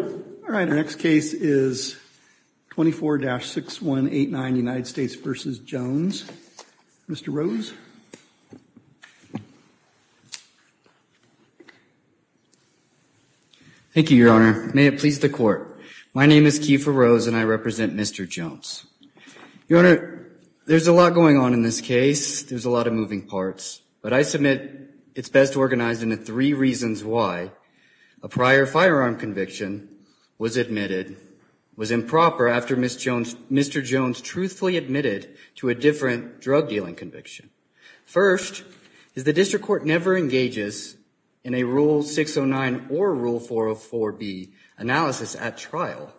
All right, our next case is 24-6189 United States v. Jones. Mr. Rose. Thank you, Your Honor. May it please the Court. My name is Kiefer Rose and I represent Mr. Jones. Your Honor, there's a lot going on in this case. There's a lot of moving parts. But I submit it's best organized into three reasons why a prior firearm conviction was admitted, was improper after Mr. Jones truthfully admitted to a different drug dealing conviction. First, is the district court never engages in a Rule 609 or Rule 404B analysis at trial.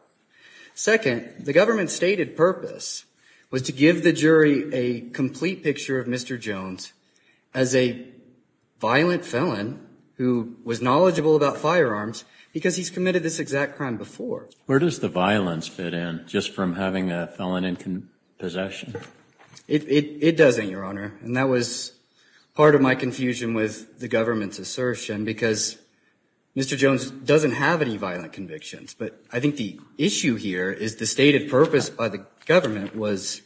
Second, the government's stated purpose was to give the jury a complete picture of Mr. Jones as a violent felon who was knowledgeable about firearms because he's committed this exact crime before. Where does the violence fit in just from having a felon in possession? It doesn't, Your Honor. And that was part of my confusion with the government's assertion because Mr. Jones doesn't have any violent convictions. But I think the issue here is the stated purpose by the government was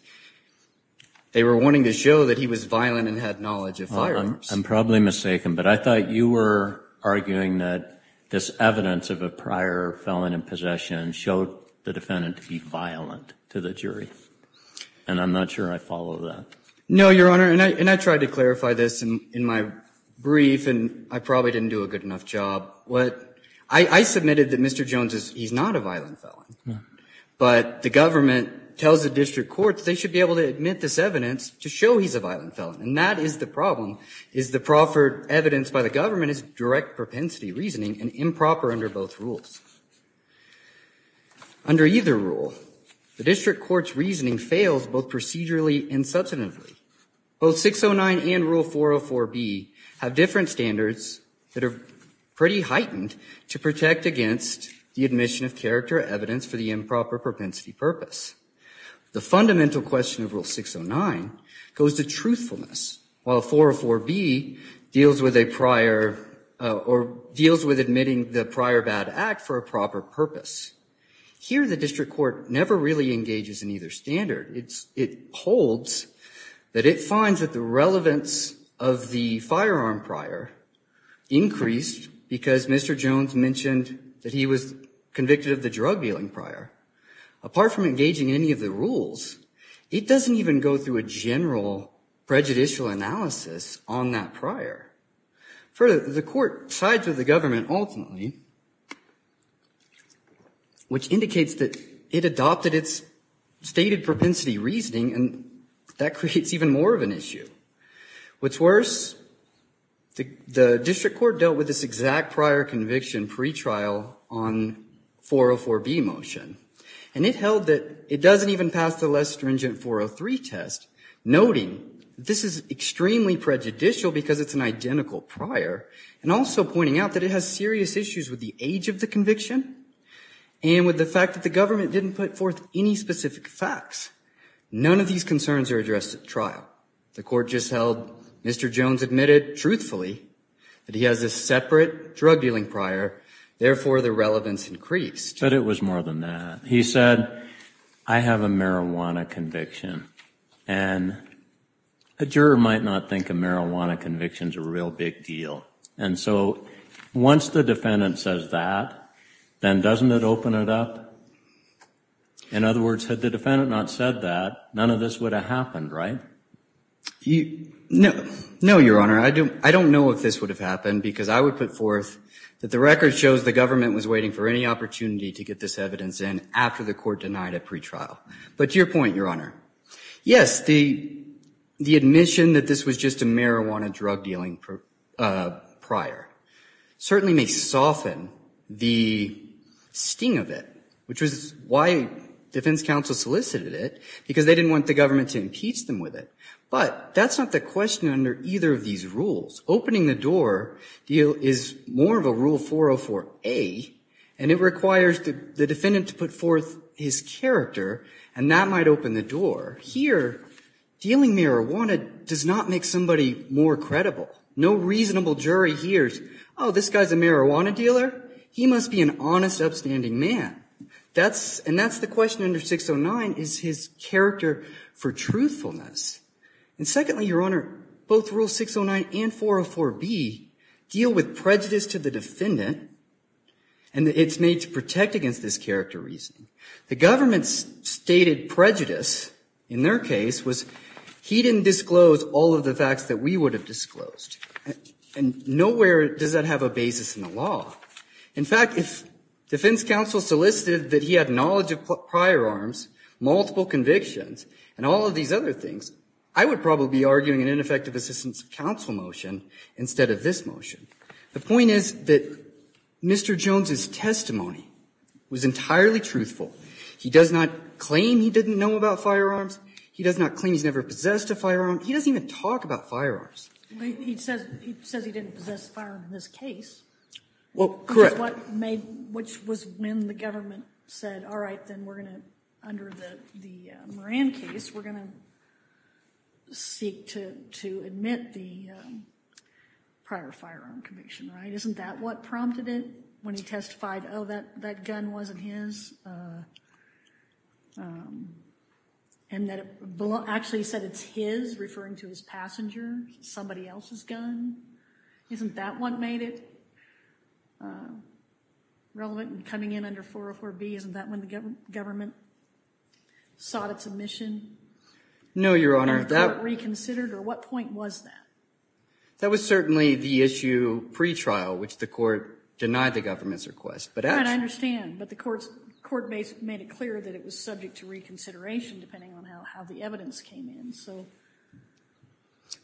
they were wanting to show that he was violent and had knowledge of firearms. I'm probably mistaken, but I thought you were arguing that this evidence of a prior felon in possession showed the defendant to be violent to the jury. And I'm not sure I follow that. No, Your Honor. And I tried to clarify this in my brief and I probably didn't do a good enough job. I submitted that Mr. Jones, he's not a violent felon. But the government tells the district courts they should be able to admit this evidence to show he's a violent felon. And that is the problem, is the proffered evidence by the government is direct propensity reasoning and improper under both rules. Under either rule, the district court's reasoning fails both procedurally and substantively. Both 609 and Rule 404B have different standards that are pretty heightened to protect against the admission of character evidence for the improper propensity purpose. The fundamental question of Rule 609 goes to truthfulness, while 404B deals with a prior or deals with admitting the prior bad act for a proper purpose. Here, the district court never really engages in either standard. It holds that it finds that the relevance of the firearm prior increased because Mr. Jones mentioned that he was convicted of the drug dealing prior. Apart from engaging in any of the rules, it doesn't even go through a general prejudicial analysis on that prior. Further, the court sides with the government ultimately, which indicates that it adopted its stated propensity reasoning and that creates even more of an issue. What's worse, the district court dealt with this exact prior conviction pretrial on 404B motion. And it held that it doesn't even pass the less stringent 403 test, noting this is extremely prejudicial because it's an identical prior and also pointing out that it has serious issues with the age of the conviction and with the fact that the government didn't put forth any specific facts. None of these concerns are addressed at trial. The court just held Mr. Jones admitted truthfully that he has a separate drug dealing prior. Therefore, the relevance increased. But it was more than that. He said, I have a marijuana conviction. And a juror might not think a marijuana conviction is a real big deal. And so once the defendant says that, then doesn't it open it up? In other words, had the defendant not said that, none of this would have happened, right? No, Your Honor. I don't know if this would have happened because I would put forth that the record shows the government was waiting for any opportunity to get this evidence in after the court denied a pretrial. But to your point, Your Honor, yes, the admission that this was just a marijuana drug dealing prior certainly may soften the sting of it, which was why defense counsel solicited it because they didn't want the government to impeach them with it. But that's not the question under either of these rules. Opening the door deal is more of a Rule 404A, and it requires the defendant to put forth his character, and that might open the door. Here, dealing marijuana does not make somebody more credible. No reasonable jury hears, oh, this guy's a marijuana dealer? He must be an honest, upstanding man. And that's the question under 609 is his character for truthfulness. And secondly, Your Honor, both Rule 609 and 404B deal with prejudice to the defendant, and it's made to protect against this character reasoning. The government's stated prejudice in their case was he didn't disclose all of the facts that we would have disclosed. And nowhere does that have a basis in the law. In fact, if defense counsel solicited that he had knowledge of prior arms, multiple convictions, and all of these other things, I would probably be arguing an ineffective assistance of counsel motion instead of this motion. The point is that Mr. Jones' testimony was entirely truthful. He does not claim he didn't know about firearms. He does not claim he's never possessed a firearm. He doesn't even talk about firearms. He says he didn't possess a firearm in this case. Well, correct. Which was when the government said, all right, then we're going to, under the Moran case, we're going to seek to admit the prior firearm conviction, right? Isn't that what prompted it when he testified, oh, that gun wasn't his? And that it actually said it's his, referring to his passenger, somebody else's gun? Isn't that what made it relevant in coming in under 404B? Isn't that when the government sought its admission? No, Your Honor. And thought it reconsidered? Or what point was that? That was certainly the issue pretrial, which the court denied the government's request. I understand, but the court made it clear that it was subject to reconsideration, depending on how the evidence came in.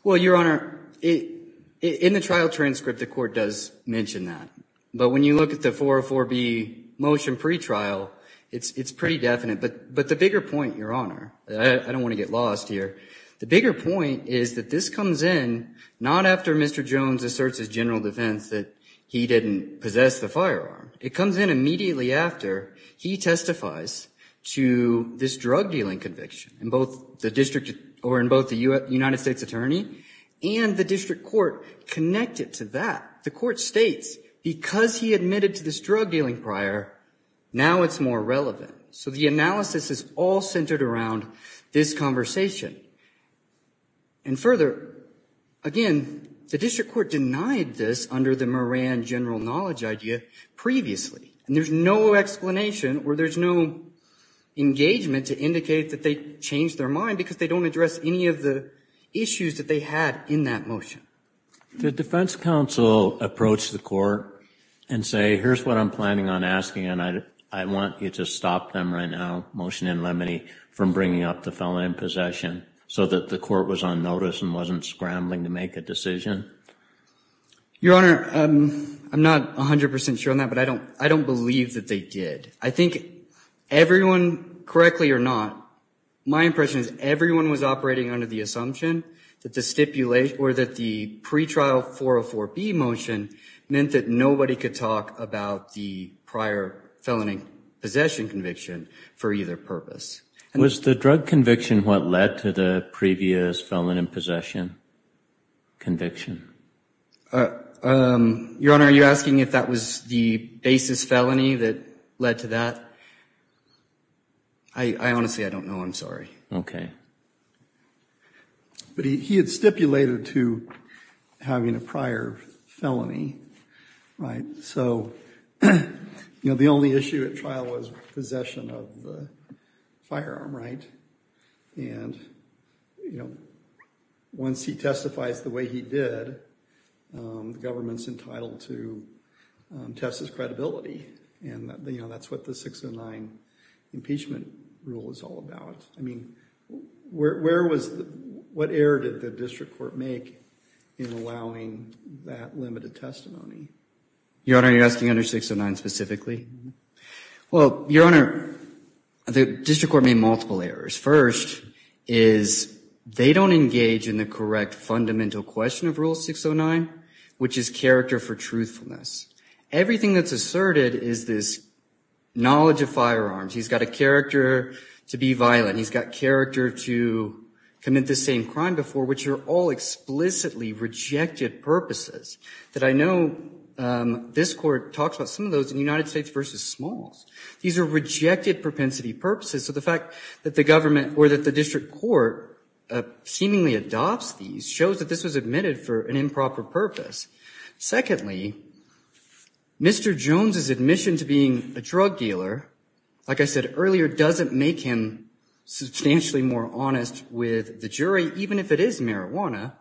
Well, Your Honor, in the trial transcript, the court does mention that. But when you look at the 404B motion pretrial, it's pretty definite. But the bigger point, Your Honor, I don't want to get lost here, the bigger point is that this comes in not after Mr. Jones asserts his general defense that he didn't possess the firearm. It comes in immediately after he testifies to this drug-dealing conviction in both the district or in both the United States Attorney and the district court connected to that. The court states because he admitted to this drug-dealing prior, now it's more relevant. So the analysis is all centered around this conversation. And further, again, the district court denied this under the Moran general knowledge idea previously, and there's no explanation or there's no engagement to indicate that they changed their mind because they don't address any of the issues that they had in that motion. Did defense counsel approach the court and say, here's what I'm planning on asking, and I want you to stop them right now, motion in limine, from bringing up the felon in possession so that the court was on notice and wasn't scrambling to make a decision? Your Honor, I'm not 100% sure on that, but I don't believe that they did. I think everyone, correctly or not, my impression is everyone was operating under the assumption that the stipulation or that the pretrial 404B motion meant that nobody could talk about the prior felon in possession conviction for either purpose. Was the drug conviction what led to the previous felon in possession conviction? Your Honor, are you asking if that was the basis felony that led to that? I honestly don't know. I'm sorry. Okay. But he had stipulated to having a prior felony, right? Right. So, you know, the only issue at trial was possession of the firearm, right? And, you know, once he testifies the way he did, the government's entitled to test his credibility. And, you know, that's what the 609 impeachment rule is all about. I mean, what error did the district court make in allowing that limited testimony? Your Honor, are you asking under 609 specifically? Well, Your Honor, the district court made multiple errors. First is they don't engage in the correct fundamental question of Rule 609, which is character for truthfulness. Everything that's asserted is this knowledge of firearms. He's got a character to be violent. He's got character to commit the same crime before, which are all explicitly rejected purposes. That I know this court talks about some of those in United States v. Smalls. These are rejected propensity purposes. So the fact that the government or that the district court seemingly adopts these shows that this was admitted for an improper purpose. Secondly, Mr. Jones's admission to being a drug dealer, like I said earlier, doesn't make him substantially more honest with the jury, even if it is marijuana.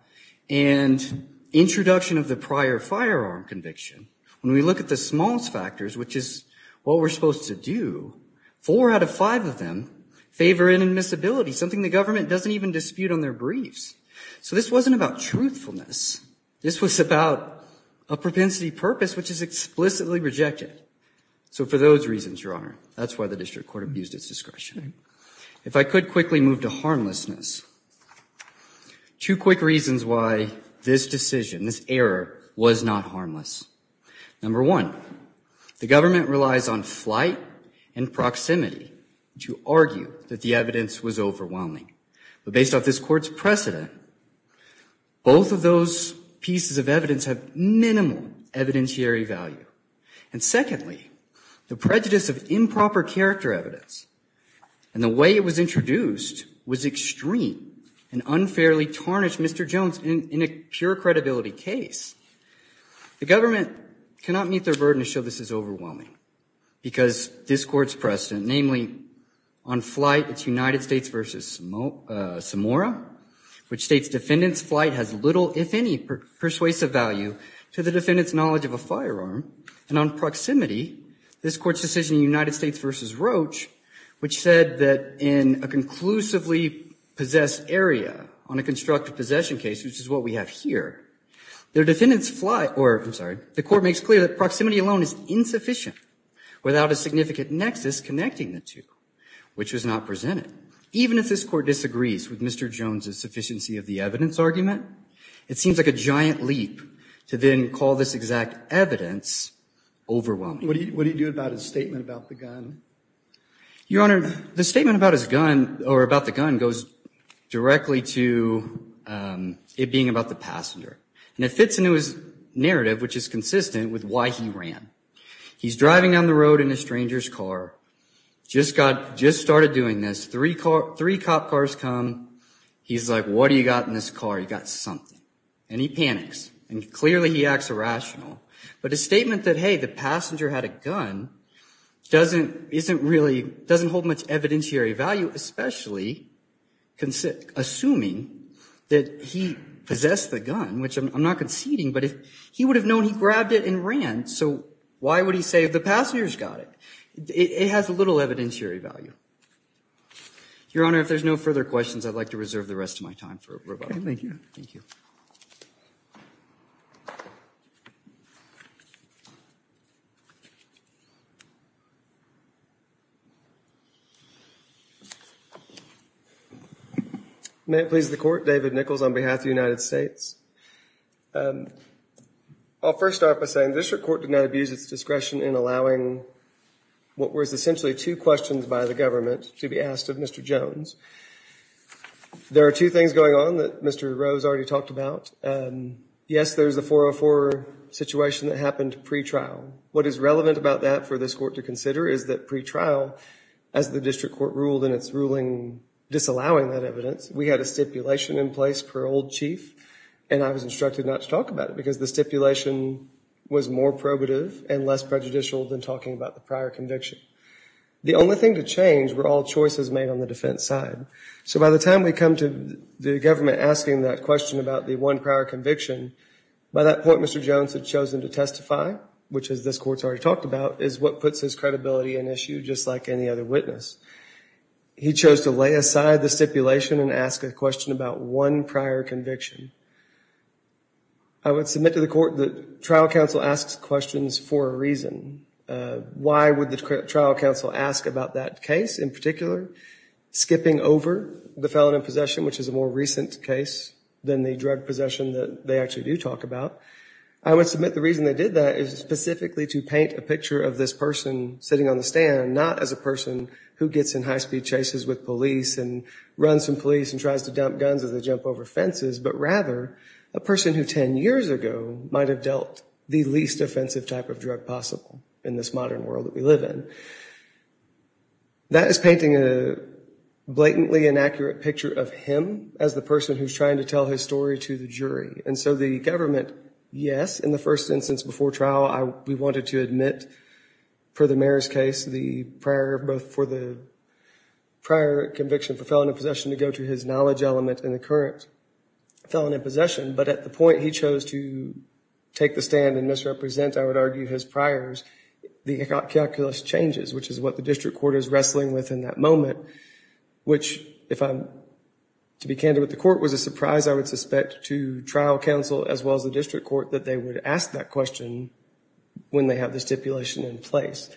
And introduction of the prior firearm conviction, when we look at the Smalls factors, which is what we're supposed to do, four out of five of them favor inadmissibility, something the government doesn't even dispute on their briefs. So this wasn't about truthfulness. This was about a propensity purpose, which is explicitly rejected. So for those reasons, Your Honor, that's why the district court abused its discretion. If I could quickly move to harmlessness, two quick reasons why this decision, this error, was not harmless. Number one, the government relies on flight and proximity to argue that the evidence was overwhelming. But based off this court's precedent, both of those pieces of evidence have minimal evidentiary value. And secondly, the prejudice of improper character evidence and the way it was introduced was extreme and unfairly tarnished Mr. Jones in a pure credibility case. The government cannot meet their burden to show this is overwhelming, because this court's precedent, namely, on flight, it's United States v. Samora, which states defendant's flight has little, if any, persuasive value to the defendant's knowledge of a firearm. And on proximity, this court's decision in United States v. Roach, which said that in a conclusively possessed area, on a constructive possession case, which is what we have here, the court makes clear that proximity alone is insufficient without a significant nexus connecting the two, which was not presented. Even if this court disagrees with Mr. Jones's sufficiency of the evidence argument, it seems like a giant leap to then call this exact evidence overwhelming. What do you do about his statement about the gun? Your Honor, the statement about his gun, or about the gun, goes directly to it being about the passenger. And it fits into his narrative, which is consistent with why he ran. He's driving down the road in a stranger's car. Just got, just started doing this. Three cop cars come. He's like, what do you got in this car? You got something. And he panics. And clearly he acts irrational. But his statement that, hey, the passenger had a gun, doesn't, isn't really, doesn't hold much evidentiary value, especially assuming that he possessed the gun, which I'm not conceding. But if he would have known he grabbed it and ran, so why would he say the passenger's got it? It has little evidentiary value. Your Honor, if there's no further questions, I'd like to reserve the rest of my time for rebuttal. Okay, thank you. Thank you. May it please the Court, David Nichols on behalf of the United States. I'll first start by saying this Court did not abuse its discretion in allowing what was essentially two questions by the government to be asked of Mr. Jones. There are two things going on that Mr. Rose already talked about. Yes, there's a 404 situation that happened pre-trial. What is relevant about that for this Court to consider is that pre-trial, as the district court ruled in its ruling disallowing that evidence, we had a stipulation in place per old chief, and I was instructed not to talk about it because the stipulation was more probative and less prejudicial than talking about the prior conviction. The only thing to change were all choices made on the defense side. So by the time we come to the government asking that question about the one prior conviction, by that point Mr. Jones had chosen to testify, which as this Court's already talked about, is what puts his credibility at issue just like any other witness. He chose to lay aside the stipulation and ask a question about one prior conviction. I would submit to the Court that trial counsel asks questions for a reason. Why would the trial counsel ask about that case in particular? Skipping over the felon in possession, which is a more recent case than the drug possession that they actually do talk about. I would submit the reason they did that is specifically to paint a picture of this person sitting on the stand, not as a person who gets in high-speed chases with police and runs from police and tries to dump guns as they jump over fences, but rather a person who 10 years ago might have dealt the least offensive type of drug possible in this modern world that we live in. That is painting a blatantly inaccurate picture of him as the person who's trying to tell his story to the jury. And so the government, yes, in the first instance before trial we wanted to admit, per the mayor's case, the prior conviction for felon in possession to go to his knowledge element in the current felon in possession. But at the point he chose to take the stand and misrepresent, I would argue, his priors, the calculus changes, which is what the district court is wrestling with in that moment. Which, to be candid with the Court, was a surprise, I would suspect, to trial counsel as well as the district court, that they would ask that question when they have the stipulation in place.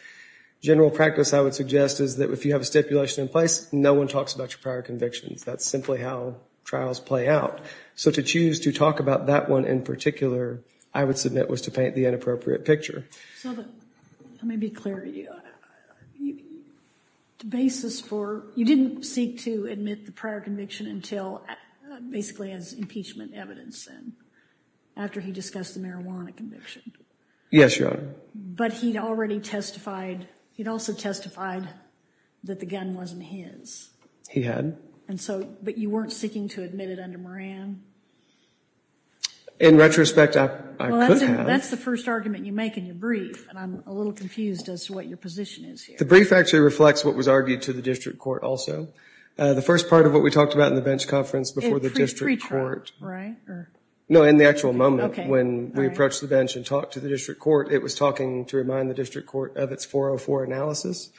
General practice, I would suggest, is that if you have a stipulation in place, no one talks about your prior convictions. That's simply how trials play out. So to choose to talk about that one in particular, I would submit, was to paint the inappropriate picture. Let me be clear to you. The basis for, you didn't seek to admit the prior conviction until basically as impeachment evidence, and after he discussed the marijuana conviction. Yes, Your Honor. But he'd already testified, he'd also testified that the gun wasn't his. He had. And so, but you weren't seeking to admit it under Moran? In retrospect, I could have. That's the first argument you make in your brief, and I'm a little confused as to what your position is here. The brief actually reflects what was argued to the district court also. The first part of what we talked about in the bench conference before the district court. In pre-trial, right? No, in the actual moment when we approached the bench and talked to the district court, it was talking to remind the district court of its 404 analysis.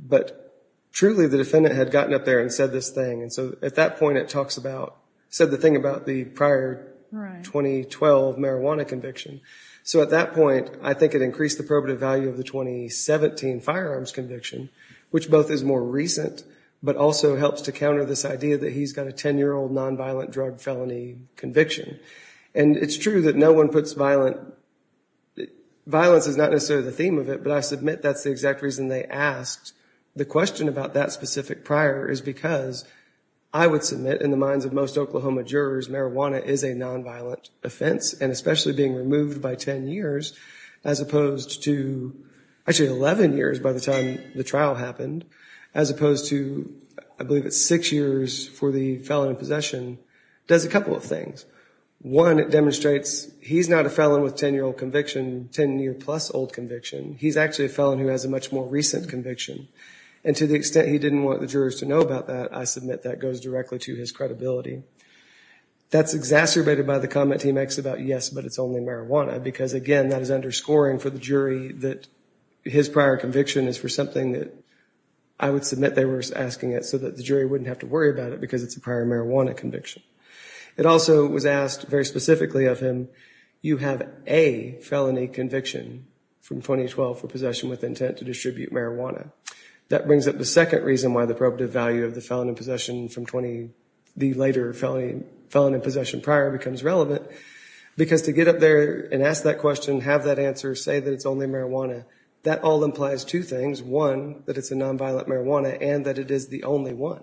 But truly, the defendant had gotten up there and said this thing. And so at that point, it talks about, said the thing about the prior 2012 marijuana conviction. So at that point, I think it increased the probative value of the 2017 firearms conviction, which both is more recent, but also helps to counter this idea that he's got a 10-year-old nonviolent drug felony conviction. And it's true that no one puts violent, violence is not necessarily the theme of it, but I submit that's the exact reason they asked. The question about that specific prior is because I would submit in the minds of most Oklahoma jurors, marijuana is a nonviolent offense, and especially being removed by 10 years, as opposed to actually 11 years by the time the trial happened, as opposed to I believe it's six years for the felon in possession, does a couple of things. One, it demonstrates he's not a felon with 10-year-old conviction, 10-year-plus-old conviction. He's actually a felon who has a much more recent conviction. And to the extent he didn't want the jurors to know about that, I submit that goes directly to his credibility. That's exacerbated by the comment he makes about, yes, but it's only marijuana, because again, that is underscoring for the jury that his prior conviction is for something that I would submit they were asking it so that the jury wouldn't have to worry about it because it's a prior marijuana conviction. It also was asked very specifically of him, you have a felony conviction from 2012 for possession with intent to distribute marijuana. That brings up the second reason why the probative value of the felon in possession from 20, the later felon in possession prior becomes relevant, because to get up there and ask that question, have that answer, say that it's only marijuana, that all implies two things. One, that it's a nonviolent marijuana, and that it is the only one,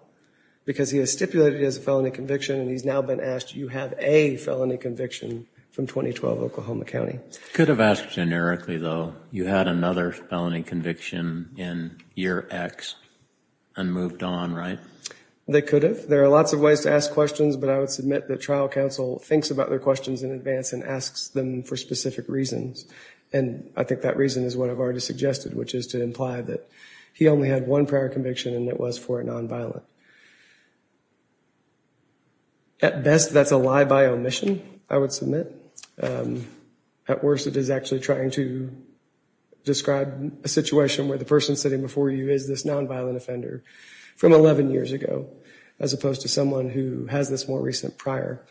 because he has stipulated it as a felony conviction, and he's now been asked, you have a felony conviction from 2012 Oklahoma County. Could have asked generically, though. You had another felony conviction in year X and moved on, right? They could have. There are lots of ways to ask questions, but I would submit that trial counsel thinks about their questions in advance and asks them for specific reasons. And I think that reason is what I've already suggested, which is to imply that he only had one prior conviction and it was for a nonviolent. At best, that's a lie by omission, I would submit. At worst, it is actually trying to describe a situation where the person sitting before you is this nonviolent offender from 11 years ago, as opposed to someone who has this more recent prior.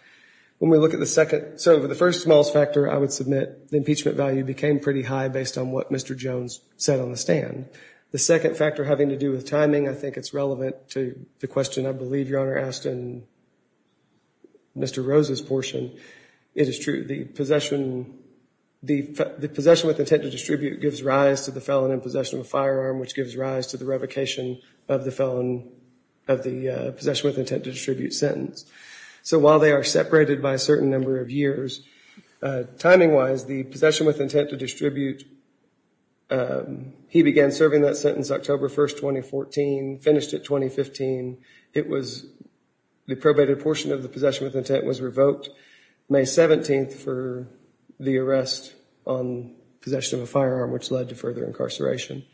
When we look at the second, so the first small factor, I would submit, the impeachment value became pretty high based on what Mr. Jones said on the stand. The second factor having to do with timing, I think it's relevant to the question I believe Your Honor asked in Mr. Rose's portion. It is true, the possession with intent to distribute gives rise to the felon in possession of a firearm, which gives rise to the revocation of the possession with intent to distribute sentence. So while they are separated by a certain number of years, timing-wise, the possession with intent to distribute, he began serving that sentence October 1st, 2014, finished it 2015. The probated portion of the possession with intent was revoked May 17th for the arrest on possession of a firearm, which led to further incarceration.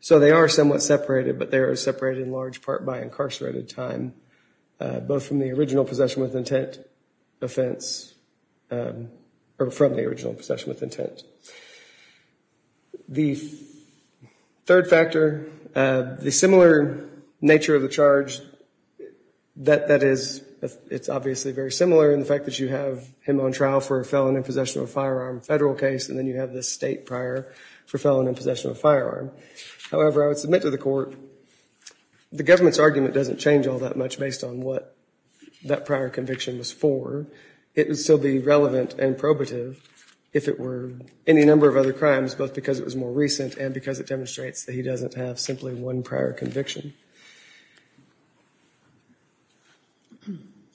So they are somewhat separated, but they are separated in large part by incarcerated time, both from the original possession with intent offense, or from the original possession with intent. The third factor, the similar nature of the charge, that is, it's obviously very similar in the fact that you have him on trial for a felon in possession of a firearm, federal case, and then you have this state prior for felon in possession of a firearm. However, I would submit to the court, the government's argument doesn't change all that much based on what that prior conviction was for. It would still be relevant and probative if it were any number of other crimes, both because it was more recent and because it demonstrates that he doesn't have simply one prior conviction.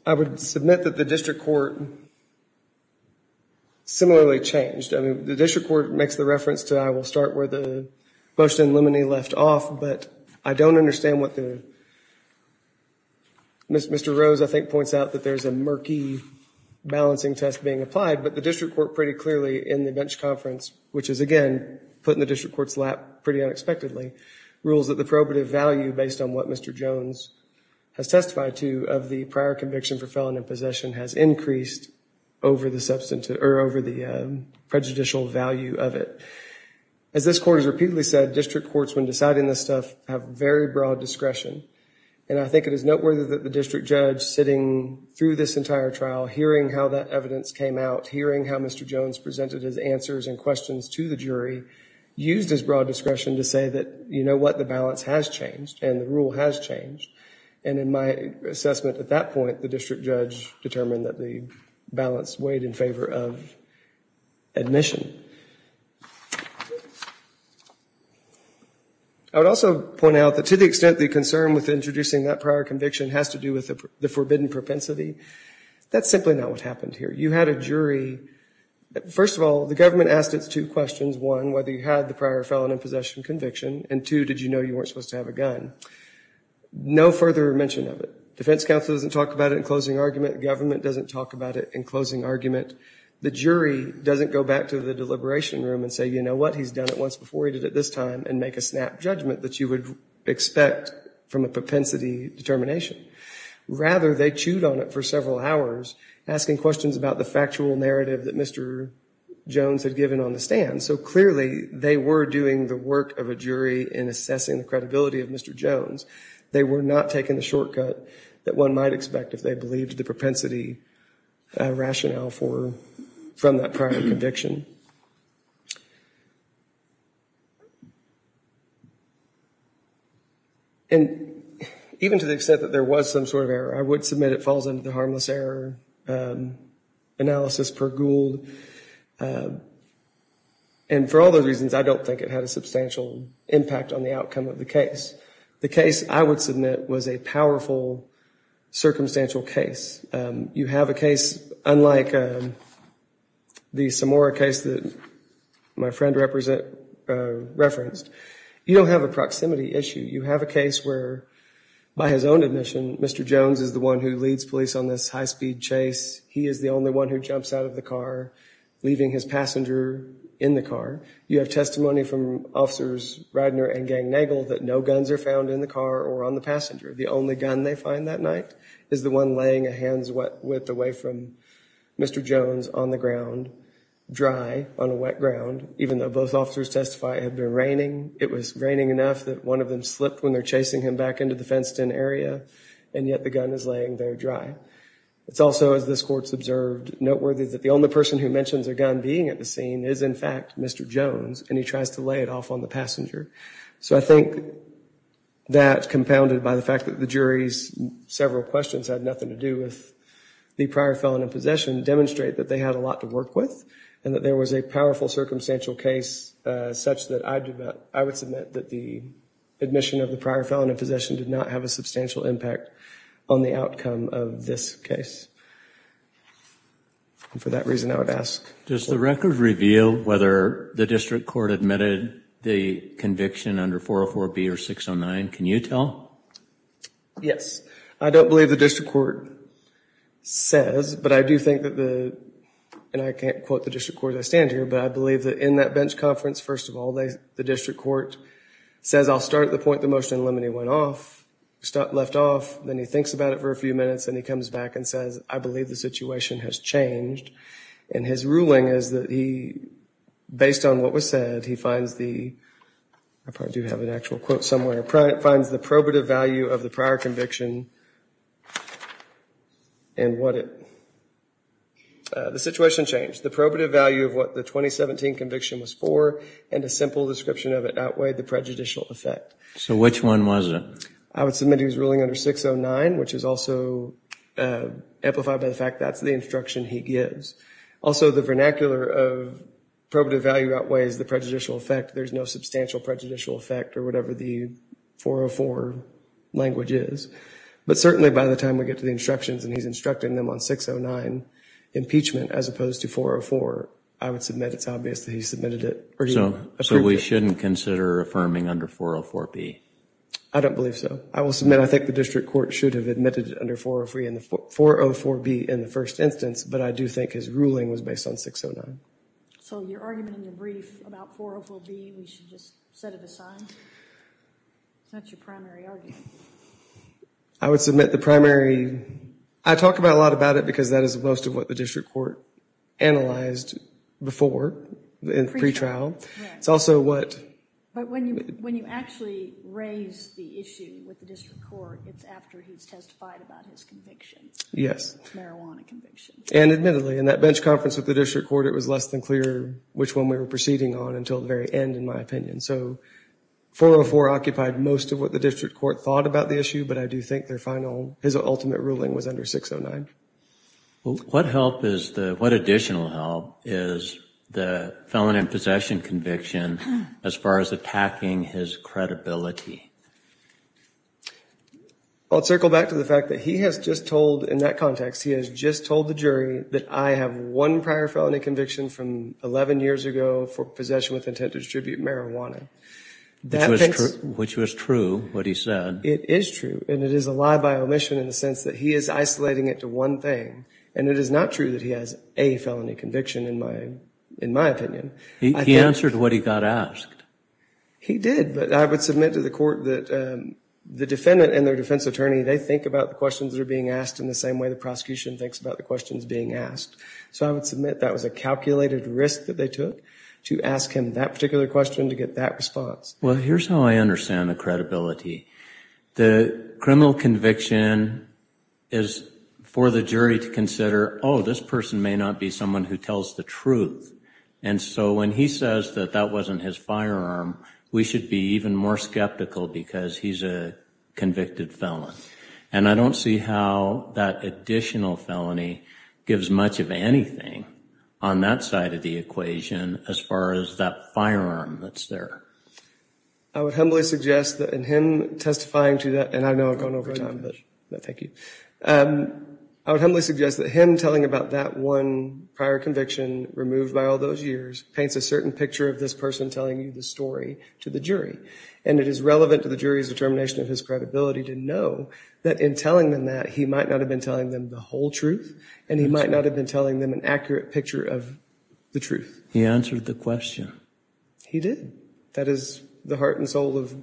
I would submit that the district court similarly changed. I mean, the district court makes the reference to, I will start where the motion in limine left off, but I don't understand what the, Mr. Rose, I think, points out that there's a murky balancing test being applied, but the district court pretty clearly in the bench conference, which is, again, put in the district court's lap pretty unexpectedly, rules that the probative value, based on what Mr. Jones has testified to of the prior conviction for felon in possession, has increased over the prejudicial value of it. As this court has repeatedly said, district courts, when deciding this stuff, have very broad discretion, and I think it is noteworthy that the district judge, sitting through this entire trial, hearing how that evidence came out, hearing how Mr. Jones presented his answers and questions to the jury, used his broad discretion to say that, you know what, the balance has changed and the rule has changed, and in my assessment at that point, the district judge determined that the balance weighed in favor of admission. I would also point out that to the extent the concern with introducing that prior conviction has to do with the forbidden propensity, that's simply not what happened here. You had a jury, first of all, the government asked its two questions, one, whether you had the prior felon in possession conviction, and two, did you know you weren't supposed to have a gun. No further mention of it. Defense counsel doesn't talk about it in closing argument. Government doesn't talk about it in closing argument. The jury doesn't go back to the deliberation room and say, you know what, he's done it once before, he did it this time, and make a snap judgment that you would expect from a propensity determination. Rather, they chewed on it for several hours, asking questions about the factual narrative that Mr. Jones had given on the stand. So clearly, they were doing the work of a jury in assessing the credibility of Mr. Jones. They were not taking the shortcut that one might expect if they believed the propensity rationale from that prior conviction. And even to the extent that there was some sort of error, I would submit it falls under the harmless error analysis per Gould. And for all those reasons, I don't think it had a substantial impact on the outcome of the case. The case I would submit was a powerful, circumstantial case. You have a case unlike the Samora case that my friend referenced. You don't have a proximity issue. You have a case where, by his own admission, Mr. Jones is the one who leads police on this high-speed chase. He is the only one who jumps out of the car, leaving his passenger in the car. You have testimony from officers Reidner and Gangnagel that no guns are found in the car or on the passenger. The only gun they find that night is the one laying a hands-width away from Mr. Jones on the ground, dry, on a wet ground, even though both officers testify it had been raining. It was raining enough that one of them slipped when they're chasing him back into the fenced-in area, and yet the gun is laying there dry. It's also, as this Court's observed, noteworthy that the only person who mentions a gun being at the scene is, in fact, Mr. Jones, and he tries to lay it off on the passenger. So I think that, compounded by the fact that the jury's several questions had nothing to do with the prior felon in possession, demonstrate that they had a lot to work with and that there was a powerful circumstantial case such that I would submit that the admission of the prior felon in possession did not have a substantial impact on the outcome of this case. And for that reason, I would ask. Does the record reveal whether the District Court admitted the conviction under 404B or 609? Can you tell? Yes. I don't believe the District Court says, but I do think that the, and I can't quote the District Court as I stand here, but I believe that in that bench conference, first of all, the District Court says, I'll start at the point the motion in limine went off, left off, then he thinks about it for a few minutes, then he comes back and says, I believe the situation has changed. And his ruling is that he, based on what was said, he finds the, I probably do have an actual quote somewhere, finds the probative value of the prior conviction and what it, the situation changed. The probative value of what the 2017 conviction was for and a simple description of it outweighed the prejudicial effect. So which one was it? I would submit he was ruling under 609, which is also amplified by the fact that's the instruction he gives. Also, the vernacular of probative value outweighs the prejudicial effect. There's no substantial prejudicial effect or whatever the 404 language is. But certainly by the time we get to the instructions and he's instructing them on 609 impeachment as opposed to 404, I would submit it's obvious that he submitted it or he approved it. So we shouldn't consider affirming under 404B? I don't believe so. I will submit I think the district court should have admitted it under 404B in the first instance, but I do think his ruling was based on 609. So your argument in your brief about 404B, we should just set it aside? That's your primary argument. I would submit the primary, I talk about a lot about it because that is most of what the district court analyzed before, in pre-trial. But when you actually raise the issue with the district court, it's after he's testified about his conviction. Yes. Marijuana conviction. And admittedly, in that bench conference with the district court, it was less than clear which one we were proceeding on until the very end, in my opinion. So 404 occupied most of what the district court thought about the issue, but I do think their final, his ultimate ruling was under 609. What additional help is the felon in possession conviction as far as attacking his credibility? I'll circle back to the fact that he has just told, in that context, he has just told the jury that I have one prior felony conviction from 11 years ago for possession with intent to distribute marijuana. Which was true, what he said. It is true, and it is a lie by omission in the sense that he is isolating it to one thing. And it is not true that he has a felony conviction, in my opinion. He answered what he got asked. He did, but I would submit to the court that the defendant and their defense attorney, they think about the questions that are being asked in the same way the prosecution thinks about the questions being asked. So I would submit that was a calculated risk that they took to ask him that particular question to get that response. Well, here's how I understand the credibility. The criminal conviction is for the jury to consider, oh, this person may not be someone who tells the truth. And so when he says that that wasn't his firearm, we should be even more skeptical because he's a convicted felon. And I don't see how that additional felony gives much of anything on that side of the equation as far as that firearm that's there. I would humbly suggest that in him testifying to that, and I know I've gone over time, but thank you. I would humbly suggest that him telling about that one prior conviction, removed by all those years, paints a certain picture of this person telling you the story to the jury. And it is relevant to the jury's determination of his credibility to know that in telling them that, he might not have been telling them the whole truth, and he might not have been telling them an accurate picture of the truth. He answered the question. He did. That is the heart and soul of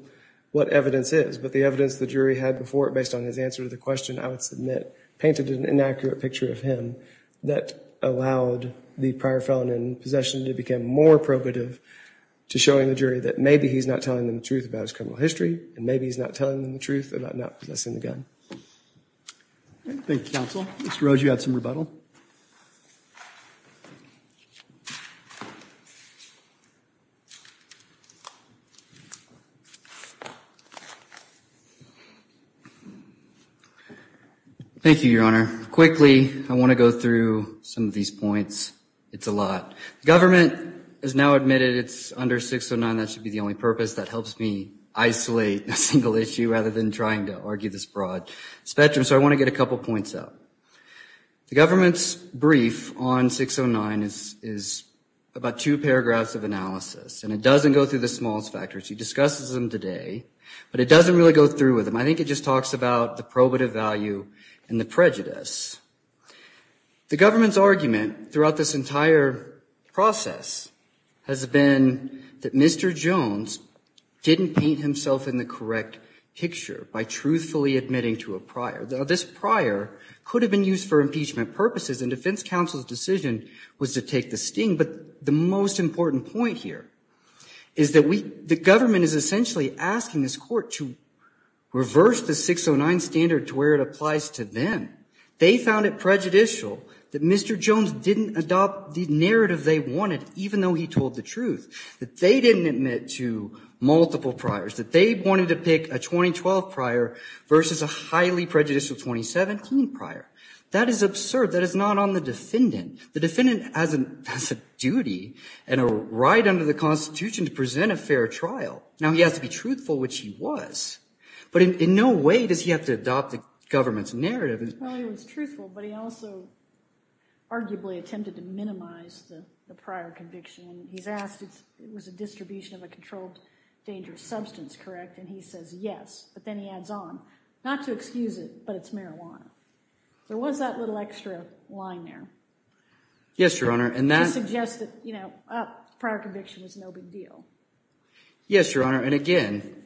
what evidence is. But the evidence the jury had before, based on his answer to the question, I would submit painted an inaccurate picture of him that allowed the prior felon in possession to become more probative to showing the jury that maybe he's not telling them the truth about his criminal history, and maybe he's not telling them the truth about not possessing the gun. Thank you, counsel. Mr. Rhodes, you have some rebuttal. Thank you, Your Honor. Quickly, I want to go through some of these points. It's a lot. The government has now admitted it's under 609. That should be the only purpose. That helps me isolate a single issue rather than trying to argue this broad spectrum. So I want to get a couple points out. The government's brief on 609 is about two paragraphs of analysis, and it doesn't go through the smallest factors. He discusses them today, but it doesn't really go through with them. I think it just talks about the probative value and the prejudice. The government's argument throughout this entire process has been that Mr. Jones didn't paint himself in the correct picture by truthfully admitting to a prior. This prior could have been used for impeachment purposes, and defense counsel's decision was to take the sting. But the most important point here is that the government is essentially asking this court to reverse the 609 standard to where it applies to them. They found it prejudicial that Mr. Jones didn't adopt the narrative they wanted, even though he told the truth, that they didn't admit to multiple priors, that they wanted to pick a 2012 prior versus a highly prejudicial 2017 prior. That is absurd. That is not on the defendant. The defendant has a duty and a right under the Constitution to present a fair trial. Now, he has to be truthful, which he was, but in no way does he have to adopt the government's narrative. Well, he was truthful, but he also arguably attempted to minimize the prior conviction. He's asked if it was a distribution of a controlled, dangerous substance, correct? And he says yes, but then he adds on, not to excuse it, but it's marijuana. There was that little extra line there. Yes, Your Honor. To suggest that prior conviction was no big deal. Yes, Your Honor, and again,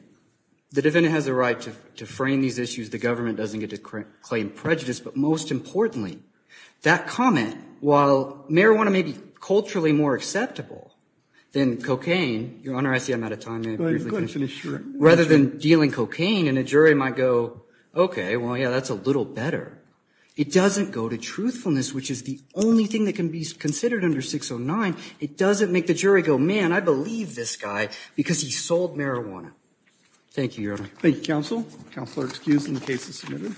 the defendant has a right to frame these issues. The government doesn't get to claim prejudice, but most importantly, that comment, while marijuana may be culturally more acceptable than cocaine, Your Honor, I see I'm out of time. Go ahead. Rather than dealing cocaine, and a jury might go, okay, well, yeah, that's a little better. It doesn't go to truthfulness, which is the only thing that can be considered under 609. It doesn't make the jury go, man, I believe this guy because he sold marijuana. Thank you, Your Honor. Thank you, counsel. Counsel are excused and the case is submitted.